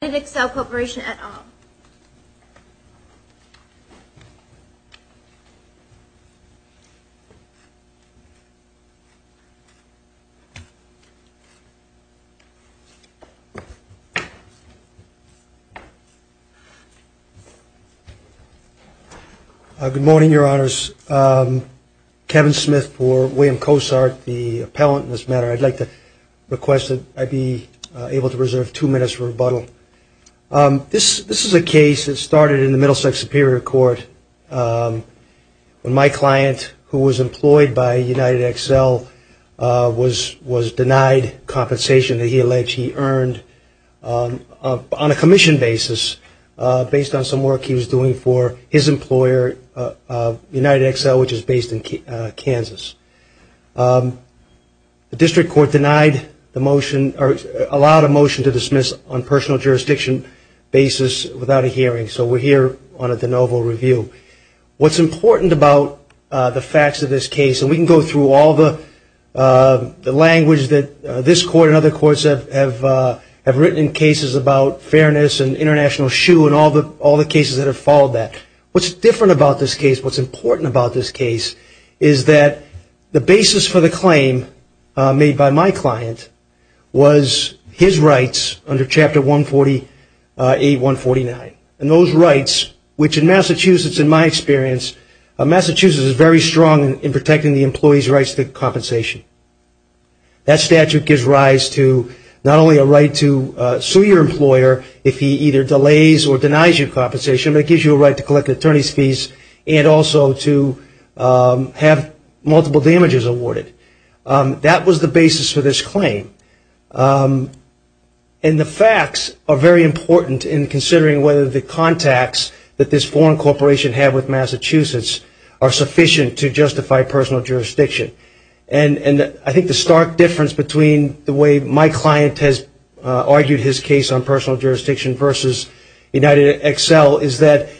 Good morning, your honors. Kevin Smith for William Cossart, the appellant in this matter. I'd like to request that I be able to reserve two minutes for rebuttal. This is a case that started in the Middlesex Superior Court when my client, who was employed by United Excel, was denied compensation that he alleged he earned on a commission basis based on some work he was doing for his employer, United Excel, which is based in Kansas. The district court allowed a motion to dismiss on personal jurisdiction basis without a hearing, so we're here on a de novo review. What's important about the facts of this case, and we can go through all the language that this court and other courts have written in cases about fairness and international shoe and all the cases that have followed that. What's different about this case, what's important about this case, is that the basis for the claim made by my client was his rights under Chapter 148-149, and those rights, which in Massachusetts, in my experience, Massachusetts is very strong in protecting the employee's rights to compensation. That statute gives rise to not only a right to sue your employer if he either delays or denies your compensation, but it gives you a right to collect attorney's fees and also to have multiple damages awarded. That was the basis for this claim. And the facts are very important in considering whether the contacts that this foreign corporation had with Massachusetts are sufficient to justify personal jurisdiction. And I think the stark difference between the way my client has argued his case on personal jurisdiction versus UnitedXL is that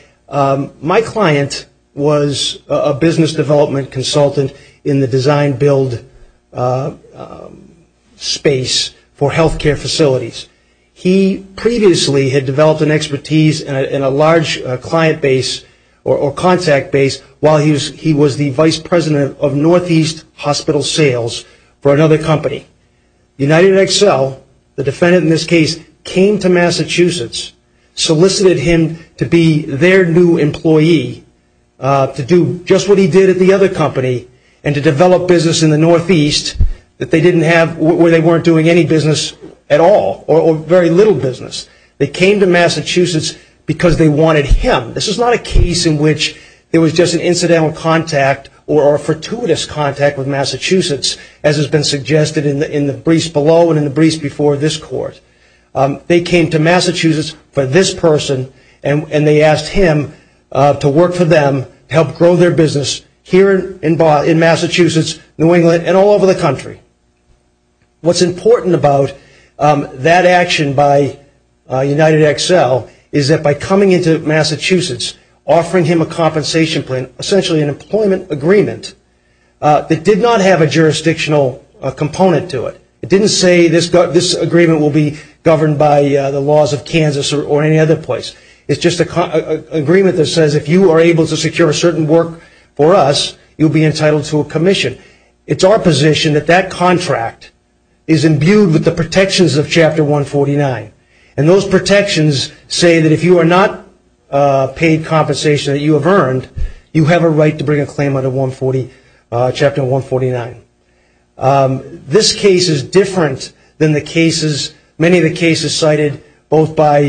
my client was a business development consultant in the design build space for healthcare facilities. He previously had developed an expertise in a large client base or contact base while he was the Vice President of Northeast Hospital Sales for another company. UnitedXL, the defendant in this case, came to Massachusetts, solicited him to be their new employee to do just what he did at the other company and to develop business in the Northeast where they weren't doing any business at all or very little business. They came to Massachusetts because they wanted him. This is not a case in which there was just an incidental contact or a fortuitous contact with Massachusetts as has been suggested in the briefs below and in the briefs before this court. They came to Massachusetts for this person and they asked him to work for them, help grow their business here in Massachusetts, New England, and all over the country. What's important about that action by UnitedXL is that by coming into Massachusetts, offering him a compensation plan, essentially an employment agreement that did not have a jurisdictional component to it. It didn't say this agreement will be governed by the laws of Kansas or any other place. It's just an agreement that says if you are able to secure a certain work for us, you'll be entitled to a commission. It's our position that that contract is imbued with the protections of Chapter 149. And those protections say that if you are not paid compensation that you have earned, you have a right to bring a claim under Chapter 149. This case is different than the cases, many of the cases cited both by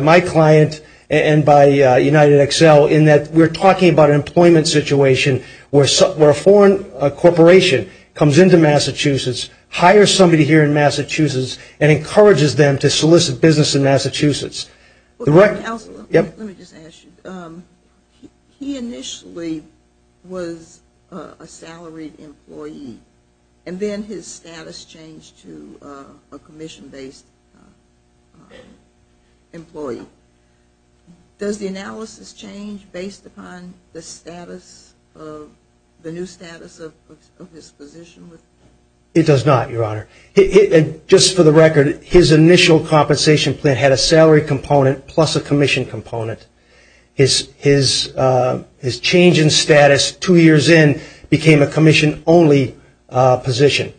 my client and by UnitedXL in that we're talking about an employment situation where a foreign corporation comes into Massachusetts, hires somebody here in Massachusetts, and encourages them to solicit business in Massachusetts. He initially was a salaried employee and then his status changed to a commission-based employee. Does the analysis change based upon the new status of his position? It does not, Your Honor. Just for the record, his initial compensation plan had a salary component plus a commission component. His change in status two years in became a commission-only position.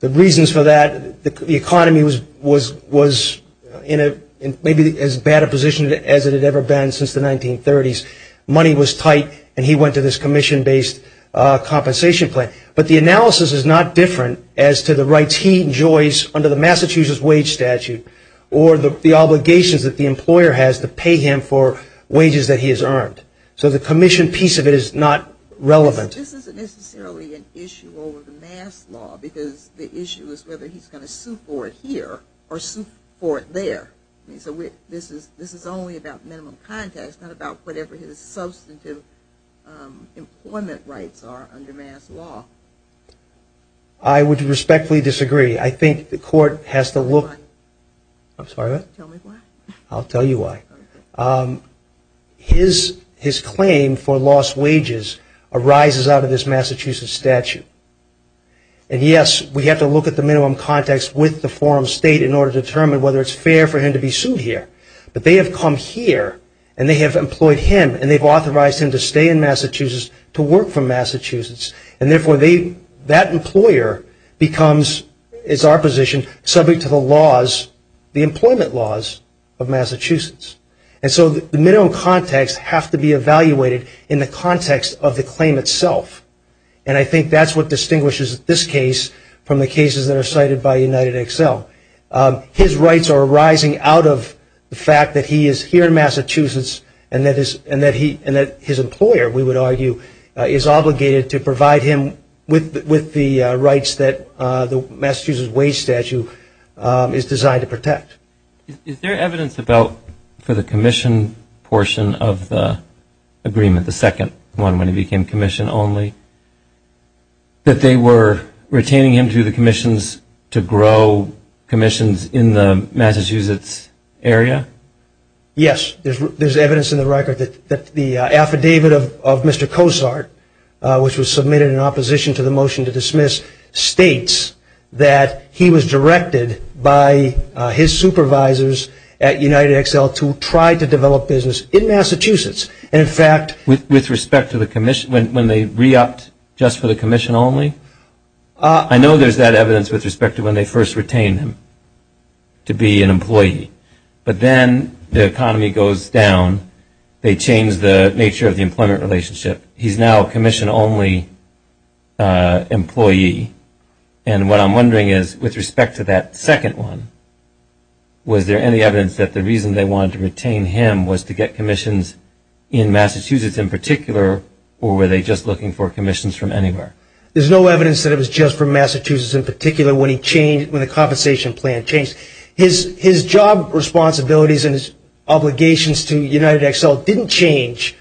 The reasons for that, the economy was in maybe as bad a position as it had ever been since the 1930s. Money was tight and he went to this commission-based compensation plan. But the analysis is not different as to the rights he enjoys under the Massachusetts wage statute or the obligations that the employer has to pay him for wages that he has earned. So the commission piece of it is not relevant. The issue is whether he's going to sue for it here or sue for it there. This is only about minimum context, not about whatever his substantive employment rights are under mass law. I would respectfully disagree. I think the court has to look... I'm sorry, what? I'll tell you why. His claim for lost wages arises out of this Massachusetts statute. And yes, we have to look at the minimum context with the forum state in order to determine whether it's fair for him to be sued here. But they have come here and they have employed him and they've authorized him to stay in Massachusetts to work for Massachusetts. And therefore, that employer becomes, is our position, subject to the laws, the employment laws of Massachusetts. And so the minimum context has to be evaluated in the context of the claim itself. And I think that's what distinguishes this case from the cases that are cited by UnitedXL. His rights are arising out of the fact that he is here in Massachusetts and that his employer, we would argue, is obligated to provide him with the rights that the Massachusetts wage statute is designed to protect. Is there evidence for the commission portion of the agreement, the second one when he became commission only, that they were retaining him to the commissions to grow commissions in the Massachusetts area? Yes, there's evidence in the record that the affidavit of Mr. Cozart, which was submitted in opposition to the motion to dismiss, states that he was directed by his supervisors at UnitedXL to try to develop business in Massachusetts. And in fact, with respect to the commission, when they re-opted just for the commission only, I know there's that evidence with respect to when they first retained him to be an employee. But then the economy goes down, they change the nature of the employment relationship. He's now a commission only employee. And what I'm wondering is, with respect to that second one, was there any evidence that the reason they wanted to retain him was to get commissions in Massachusetts in particular, or were they just looking for commissions from anywhere? There's no evidence that it was just from Massachusetts in particular when the compensation plan changed. His job responsibilities and his obligations to UnitedXL didn't change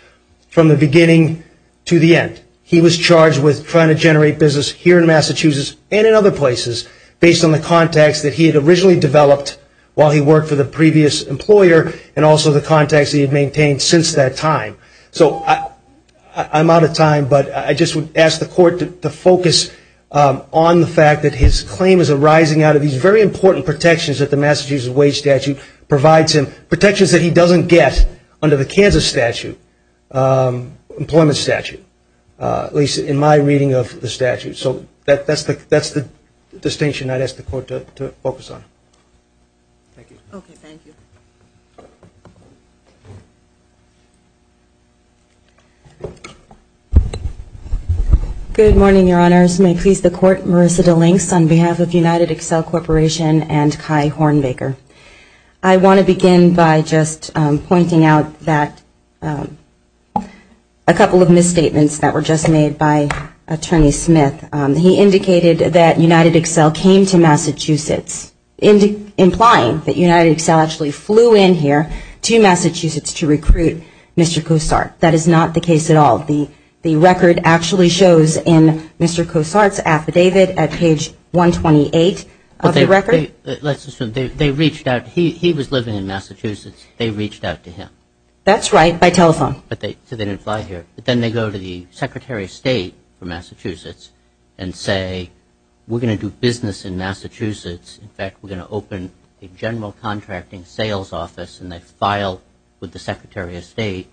from the beginning to the end. He was charged with trying to generate business here in Massachusetts and in other places, based on the contacts that he had originally developed while he worked for the previous employer, and also the contacts that he had maintained since that time. So I'm out of time, but I just would ask the court to focus on the fact that his claim is arising out of these very important protections that the Massachusetts wage statute provides him, protections that he doesn't get under the Kansas statute, employment statute, at least in my reading of the statute. So that's the distinction I'd ask the court to focus on. Good morning, Your Honors. May it please the court, Marissa DeLinks on behalf of UnitedXL Corporation and Kai Hornbaker. I want to begin by just pointing out that a couple of misstatements that were just made by Attorney Smith. He indicated that UnitedXL came to Massachusetts, implying that UnitedXL actually flew in here to Massachusetts to recruit Mr. Cossart. That is not the case at all. The record actually shows in Mr. Cossart's affidavit at page 128 of the record. Let's assume they reached out. He was living in Massachusetts. They reached out to him. That's right, by telephone. So they didn't fly here, but then they go to the Secretary of State for Massachusetts and say, we're going to do business in Massachusetts. In fact, we're going to open a general contracting sales office, and they file with the Secretary of State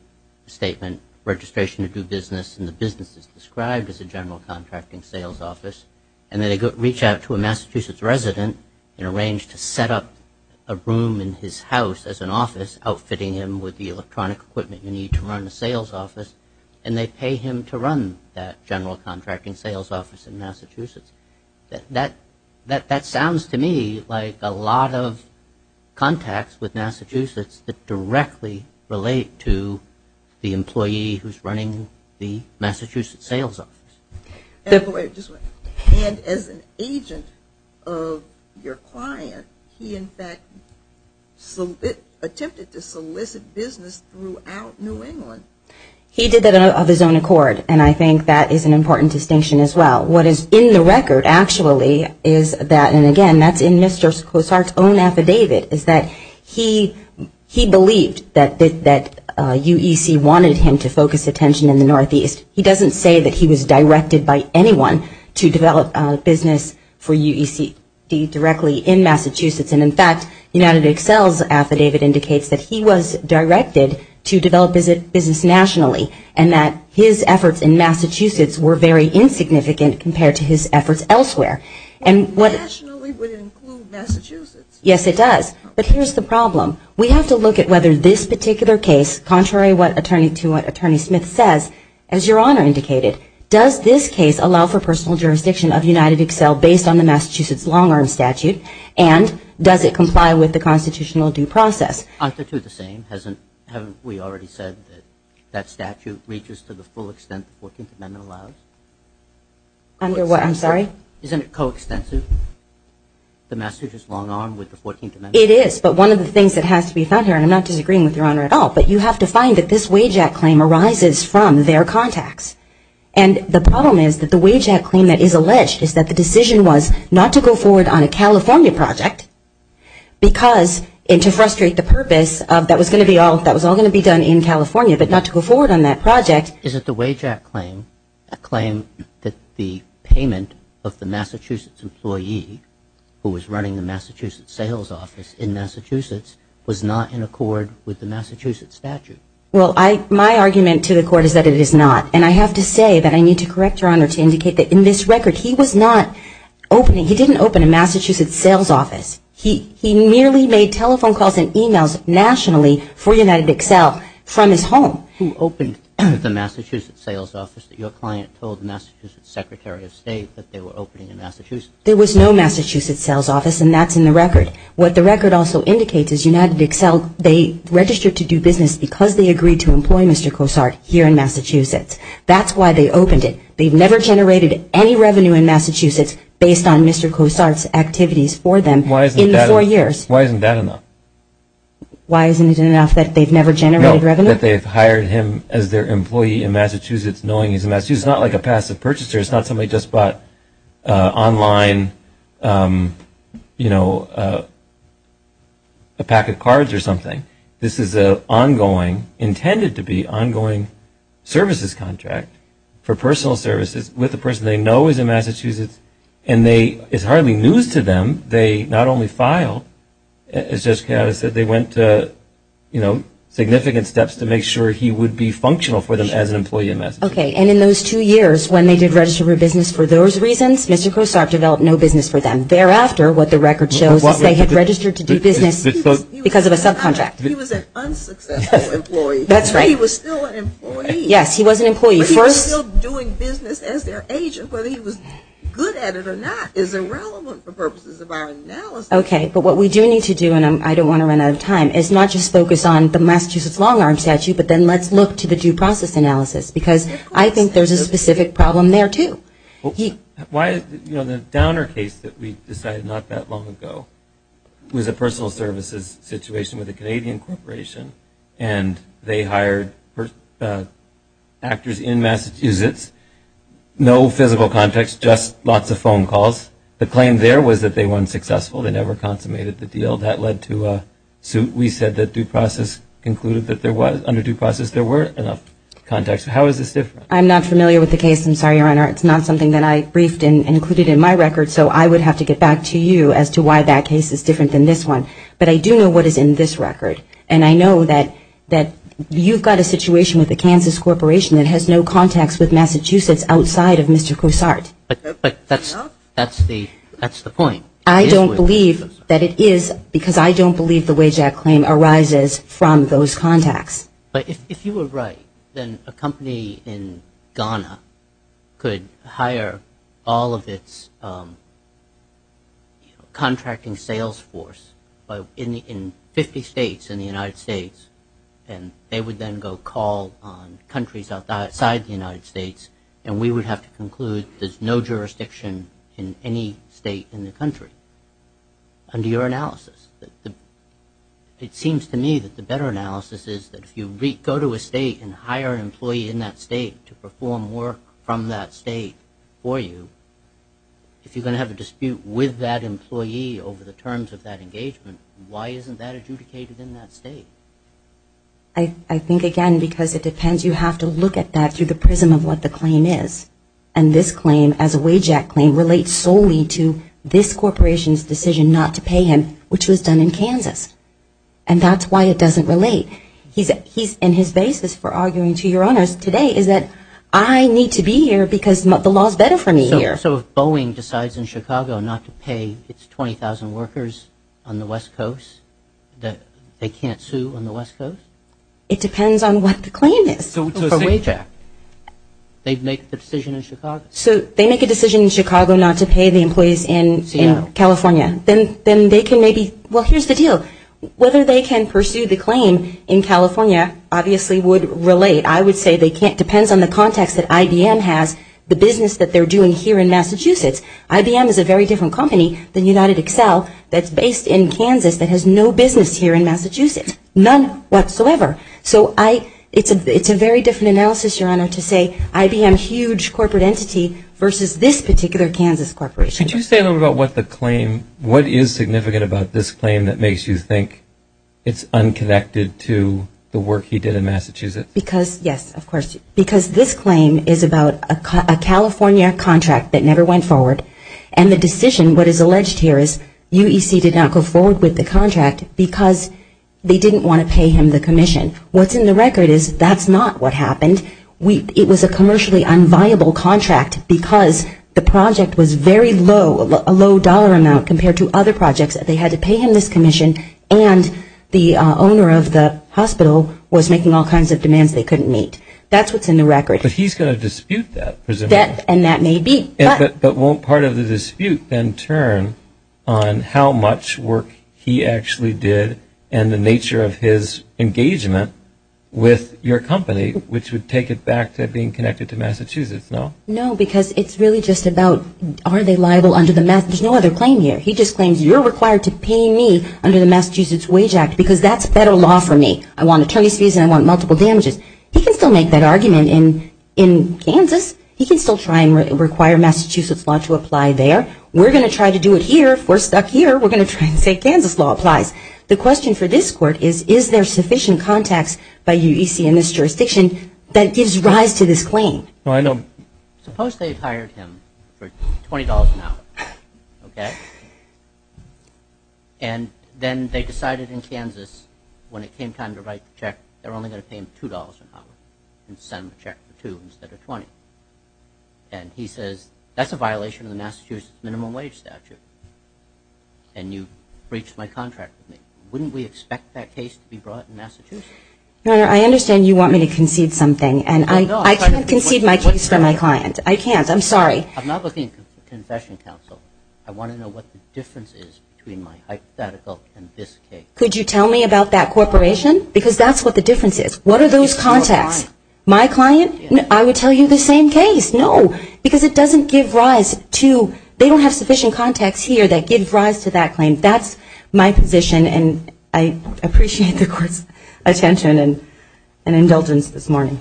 a statement, registration to do business, and the business is described as a general contracting sales office. And then they reach out to a Massachusetts resident and arrange to set up a room in his house as an office, outfitting him with the electronic equipment you need to run a sales office, and they pay him to run that general contracting sales office in Massachusetts. That sounds to me like a lot of contacts with Massachusetts that directly relate to the employee who's running the Massachusetts sales office. And as an agent of your client, he in fact attempted to solicit business throughout New England. He did that of his own accord, and I think that is an important distinction as well. What is in the record actually is that, and again, that's in Mr. Cossart's own affidavit, is that he believed that UEC wanted him to focus attention in the Northeast. He doesn't say that he was directed by anyone to develop business for UEC directly in Massachusetts. And in fact, UnitedExcel's affidavit indicates that he was directed to develop business nationally, and that his efforts in Massachusetts were very insignificant compared to his efforts elsewhere. Nationally would include Massachusetts? Yes, it does, but here's the problem. We have to look at whether this particular case, contrary to what Attorney Smith says, as Your Honor indicated, does this case allow for personal jurisdiction of UnitedExcel based on the Massachusetts long-arm statute, and does it comply with the constitutional due process? Aren't the two the same? Haven't we already said that that statute reaches to the full extent that the 14th Amendment allows? I'm sorry? Isn't it coextensive, the Massachusetts long-arm with the 14th Amendment? It is, but one of the things that has to be found here, and I'm not disagreeing with Your Honor at all, but you have to find that this WAJAC claim arises from their contacts. And the problem is that the WAJAC claim that is alleged is that the decision was not to go forward on a California project because, and to frustrate the purpose of that was all going to be done in California, but not to go forward on that project. Is it the WAJAC claim that the payment of the Massachusetts employee who was running the Massachusetts sales office in Massachusetts was not in accord with the Massachusetts statute? Well, my argument to the Court is that it is not, and I have to say that I need to correct Your Honor to indicate that in this record he was not opening, he didn't open a Massachusetts sales office. He merely made telephone calls and e-mails nationally for UnitedXL from his home. Who opened the Massachusetts sales office? Your client told the Massachusetts Secretary of State that they were opening in Massachusetts. There was no Massachusetts sales office, and that's in the record. What the record also indicates is UnitedXL, they registered to do business because they agreed to employ Mr. Cossart here in Massachusetts. That's why they opened it. They've never generated any revenue in Massachusetts based on Mr. Cossart's activities for them in the four years. Why isn't that enough? Why isn't it enough that they've never generated revenue? No, that they've hired him as their employee in Massachusetts knowing he's in Massachusetts. It's not like a passive purchaser. It's not somebody just bought online a pack of cards or something. This is an ongoing, intended to be ongoing, services contract for personal services with a person they know is in Massachusetts. And it's hardly news to them. They not only filed, as Jessica said, they went to significant steps to make sure he would be functional for them as an employee in Massachusetts. Okay, and in those two years when they did register for business for those reasons, Mr. Cossart developed no business for them. And thereafter, what the record shows is they had registered to do business because of a subcontract. He was an unsuccessful employee. He was still an employee. But he was still doing business as their agent. Whether he was good at it or not is irrelevant for purposes of our analysis. Okay, but what we do need to do, and I don't want to run out of time, is not just focus on the Massachusetts long arm statute, but then let's look to the due process analysis. Because I think there's a specific problem there, too. The Downer case that we decided not that long ago was a personal services situation with a Canadian corporation. And they hired actors in Massachusetts. No physical contacts, just lots of phone calls. The claim there was that they weren't successful. They never consummated the deal. That led to a suit. We said that due process concluded that under due process there were enough contacts. How is this different? I'm not familiar with the case, I'm sorry, Your Honor. It's not something that I briefed and included in my record, so I would have to get back to you as to why that case is different than this one. But I do know what is in this record. And I know that you've got a situation with a Kansas corporation that has no contacts with Massachusetts outside of Mr. Cousart. But that's the point. I don't believe that it is, because I don't believe the Wage Act claim arises from those contacts. But if you were right, then a company in Ghana could hire all of its contracting sales force in 50 states in the United States, and they would then go call on countries outside the United States, and we would have to conclude there's no jurisdiction in any state in the country. Under your analysis. It seems to me that the better analysis is that if you go to a state and hire an employee in that state to perform work from that state for you, if you're going to have a dispute with that employee over the terms of that engagement, why isn't that adjudicated in that state? I think, again, because it depends, you have to look at that through the prism of what the claim is. And this claim as a Wage Act claim relates solely to this corporation's decision not to pay him, which was done in Kansas. And that's why it doesn't relate. He's in his basis for arguing to your honors today is that I need to be here because the law is better for me here. So if Boeing decides in Chicago not to pay its 20,000 workers on the West Coast, that they can't sue on the West Coast? It depends on what the claim is. They've made the decision in Chicago. So they make a decision in Chicago not to pay the employees in California. Then they can maybe, well, here's the deal. Whether they can pursue the claim in California obviously would relate. I would say it depends on the context that IBM has, the business that they're doing here in Massachusetts. IBM is a very different company than UnitedXcel that's based in Kansas that has no business here in Massachusetts. None whatsoever. So it's a very different analysis, your honor, to say IBM, huge corporate entity versus this particular Kansas corporation. Could you say a little bit about what the claim, what is significant about this claim that makes you think it's unconnected to the work he did in Massachusetts? Yes, of course, because this claim is about a California contract that never went forward. And the decision, what is alleged here is UEC did not go forward with the contract because they didn't want to pay him the commission. What's in the record is that's not what happened. It was a commercially unviable contract because the project was very low, a low dollar amount compared to other projects. They had to pay him this commission and the owner of the hospital was making all kinds of demands they couldn't meet. That's what's in the record. But he's going to dispute that. And that may be. But won't part of the dispute then turn on how much work he actually did and the nature of his engagement with your company, which would take it back to being connected to Massachusetts, no? No, because it's really just about are they liable under the Massachusetts, no other claim here. He just claims you're required to pay me under the Massachusetts Wage Act because that's federal law for me. I want attorney's fees and I want multiple damages. He can still make that argument in Kansas. He can still try and require Massachusetts law to apply there. We're going to try to do it here. If we're stuck here, we're going to try and say Kansas law applies. The question for this court is, is there sufficient context by UEC and this jurisdiction that gives rise to this claim? Suppose they've hired him for $20 an hour. And then they decided in Kansas when it came time to write the check, they're only going to pay him $2 an hour and send him a check for $2 instead of $20. And he says that's a violation of the Massachusetts minimum wage statute. And you breached my contract with me. Wouldn't we expect that case to be brought in Massachusetts? Your Honor, I understand you want me to concede something and I can't concede my case for my client. I can't, I'm sorry. I'm not looking for confession counsel. I want to know what the difference is between my hypothetical and this case. Could you tell me about that corporation? Because that's what the difference is. What are those contacts? My client, I would tell you the same case. No, because it doesn't give rise to, they don't have sufficient context here that gives rise to that claim. That's my position and I appreciate the court's attention and indulgence this morning.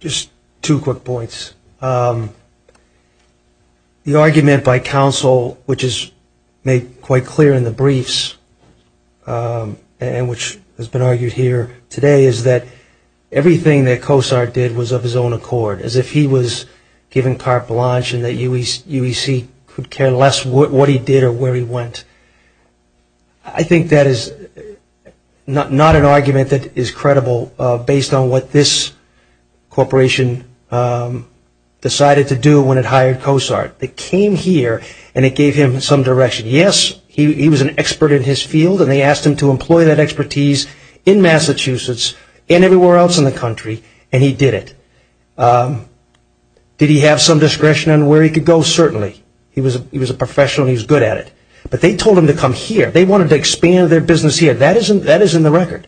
Just two quick points. The argument by counsel, which is made quite clear in the briefs and which has been argued here today, is that everything that Cosart did was of his own accord. As if he was giving carte blanche and that UEC could care less what he did or where he went. I think that is not an argument that is credible based on what this corporation, decided to do when it hired Cosart. Yes, he was an expert in his field and they asked him to employ that expertise in Massachusetts and everywhere else in the country and he did it. Did he have some discretion on where he could go? Certainly. He was a professional and he was good at it, but they told him to come here. They wanted to expand their business here. That is in the record.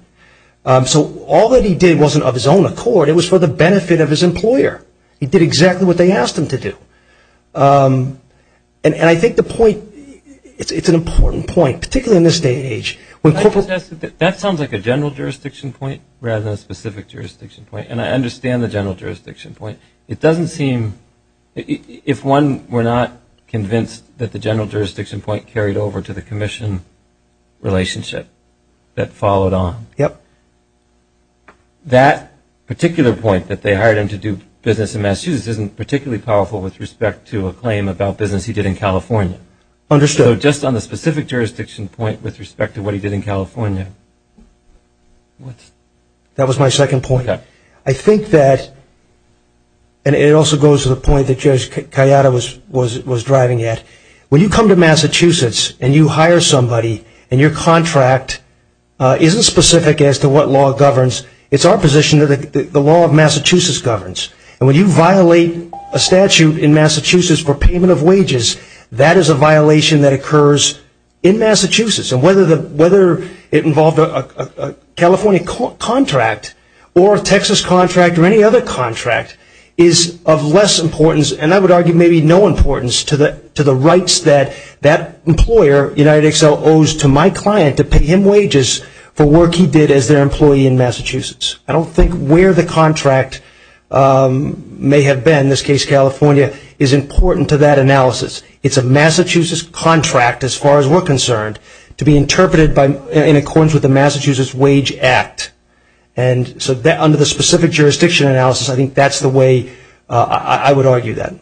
So all that he did wasn't of his own accord, it was for the benefit of his employer. He did exactly what they asked him to do. And I think the point, it's an important point, particularly in this day and age. That sounds like a general jurisdiction point rather than a specific jurisdiction point. And I understand the general jurisdiction point. If one were not convinced that the general jurisdiction point carried over to the commission relationship that followed on, that particular point that they hired him to do business in Massachusetts isn't particularly powerful with respect to a claim about business he did in California. So just on the specific jurisdiction point with respect to what he did in California. That was my second point. I think that, and it also goes to the point that Judge Kayada was driving at, when you come to Massachusetts and you hire somebody and your contract isn't specific as to what law governs, it's our position that the law of Massachusetts governs. And when you violate a statute in Massachusetts for payment of wages, that is a violation that occurs in Massachusetts. And whether it involved a California contract or a Texas contract or any other contract is of less importance, and I would argue maybe no importance to the rights that that employer, UnitedXL, owes to my client to pay him wages for work that he did as their employee in Massachusetts. I don't think where the contract may have been, in this case California, is important to that analysis. It's a Massachusetts contract, as far as we're concerned, to be interpreted in accordance with the Massachusetts Wage Act. And so under the specific jurisdiction analysis, I think that's the way I would argue that.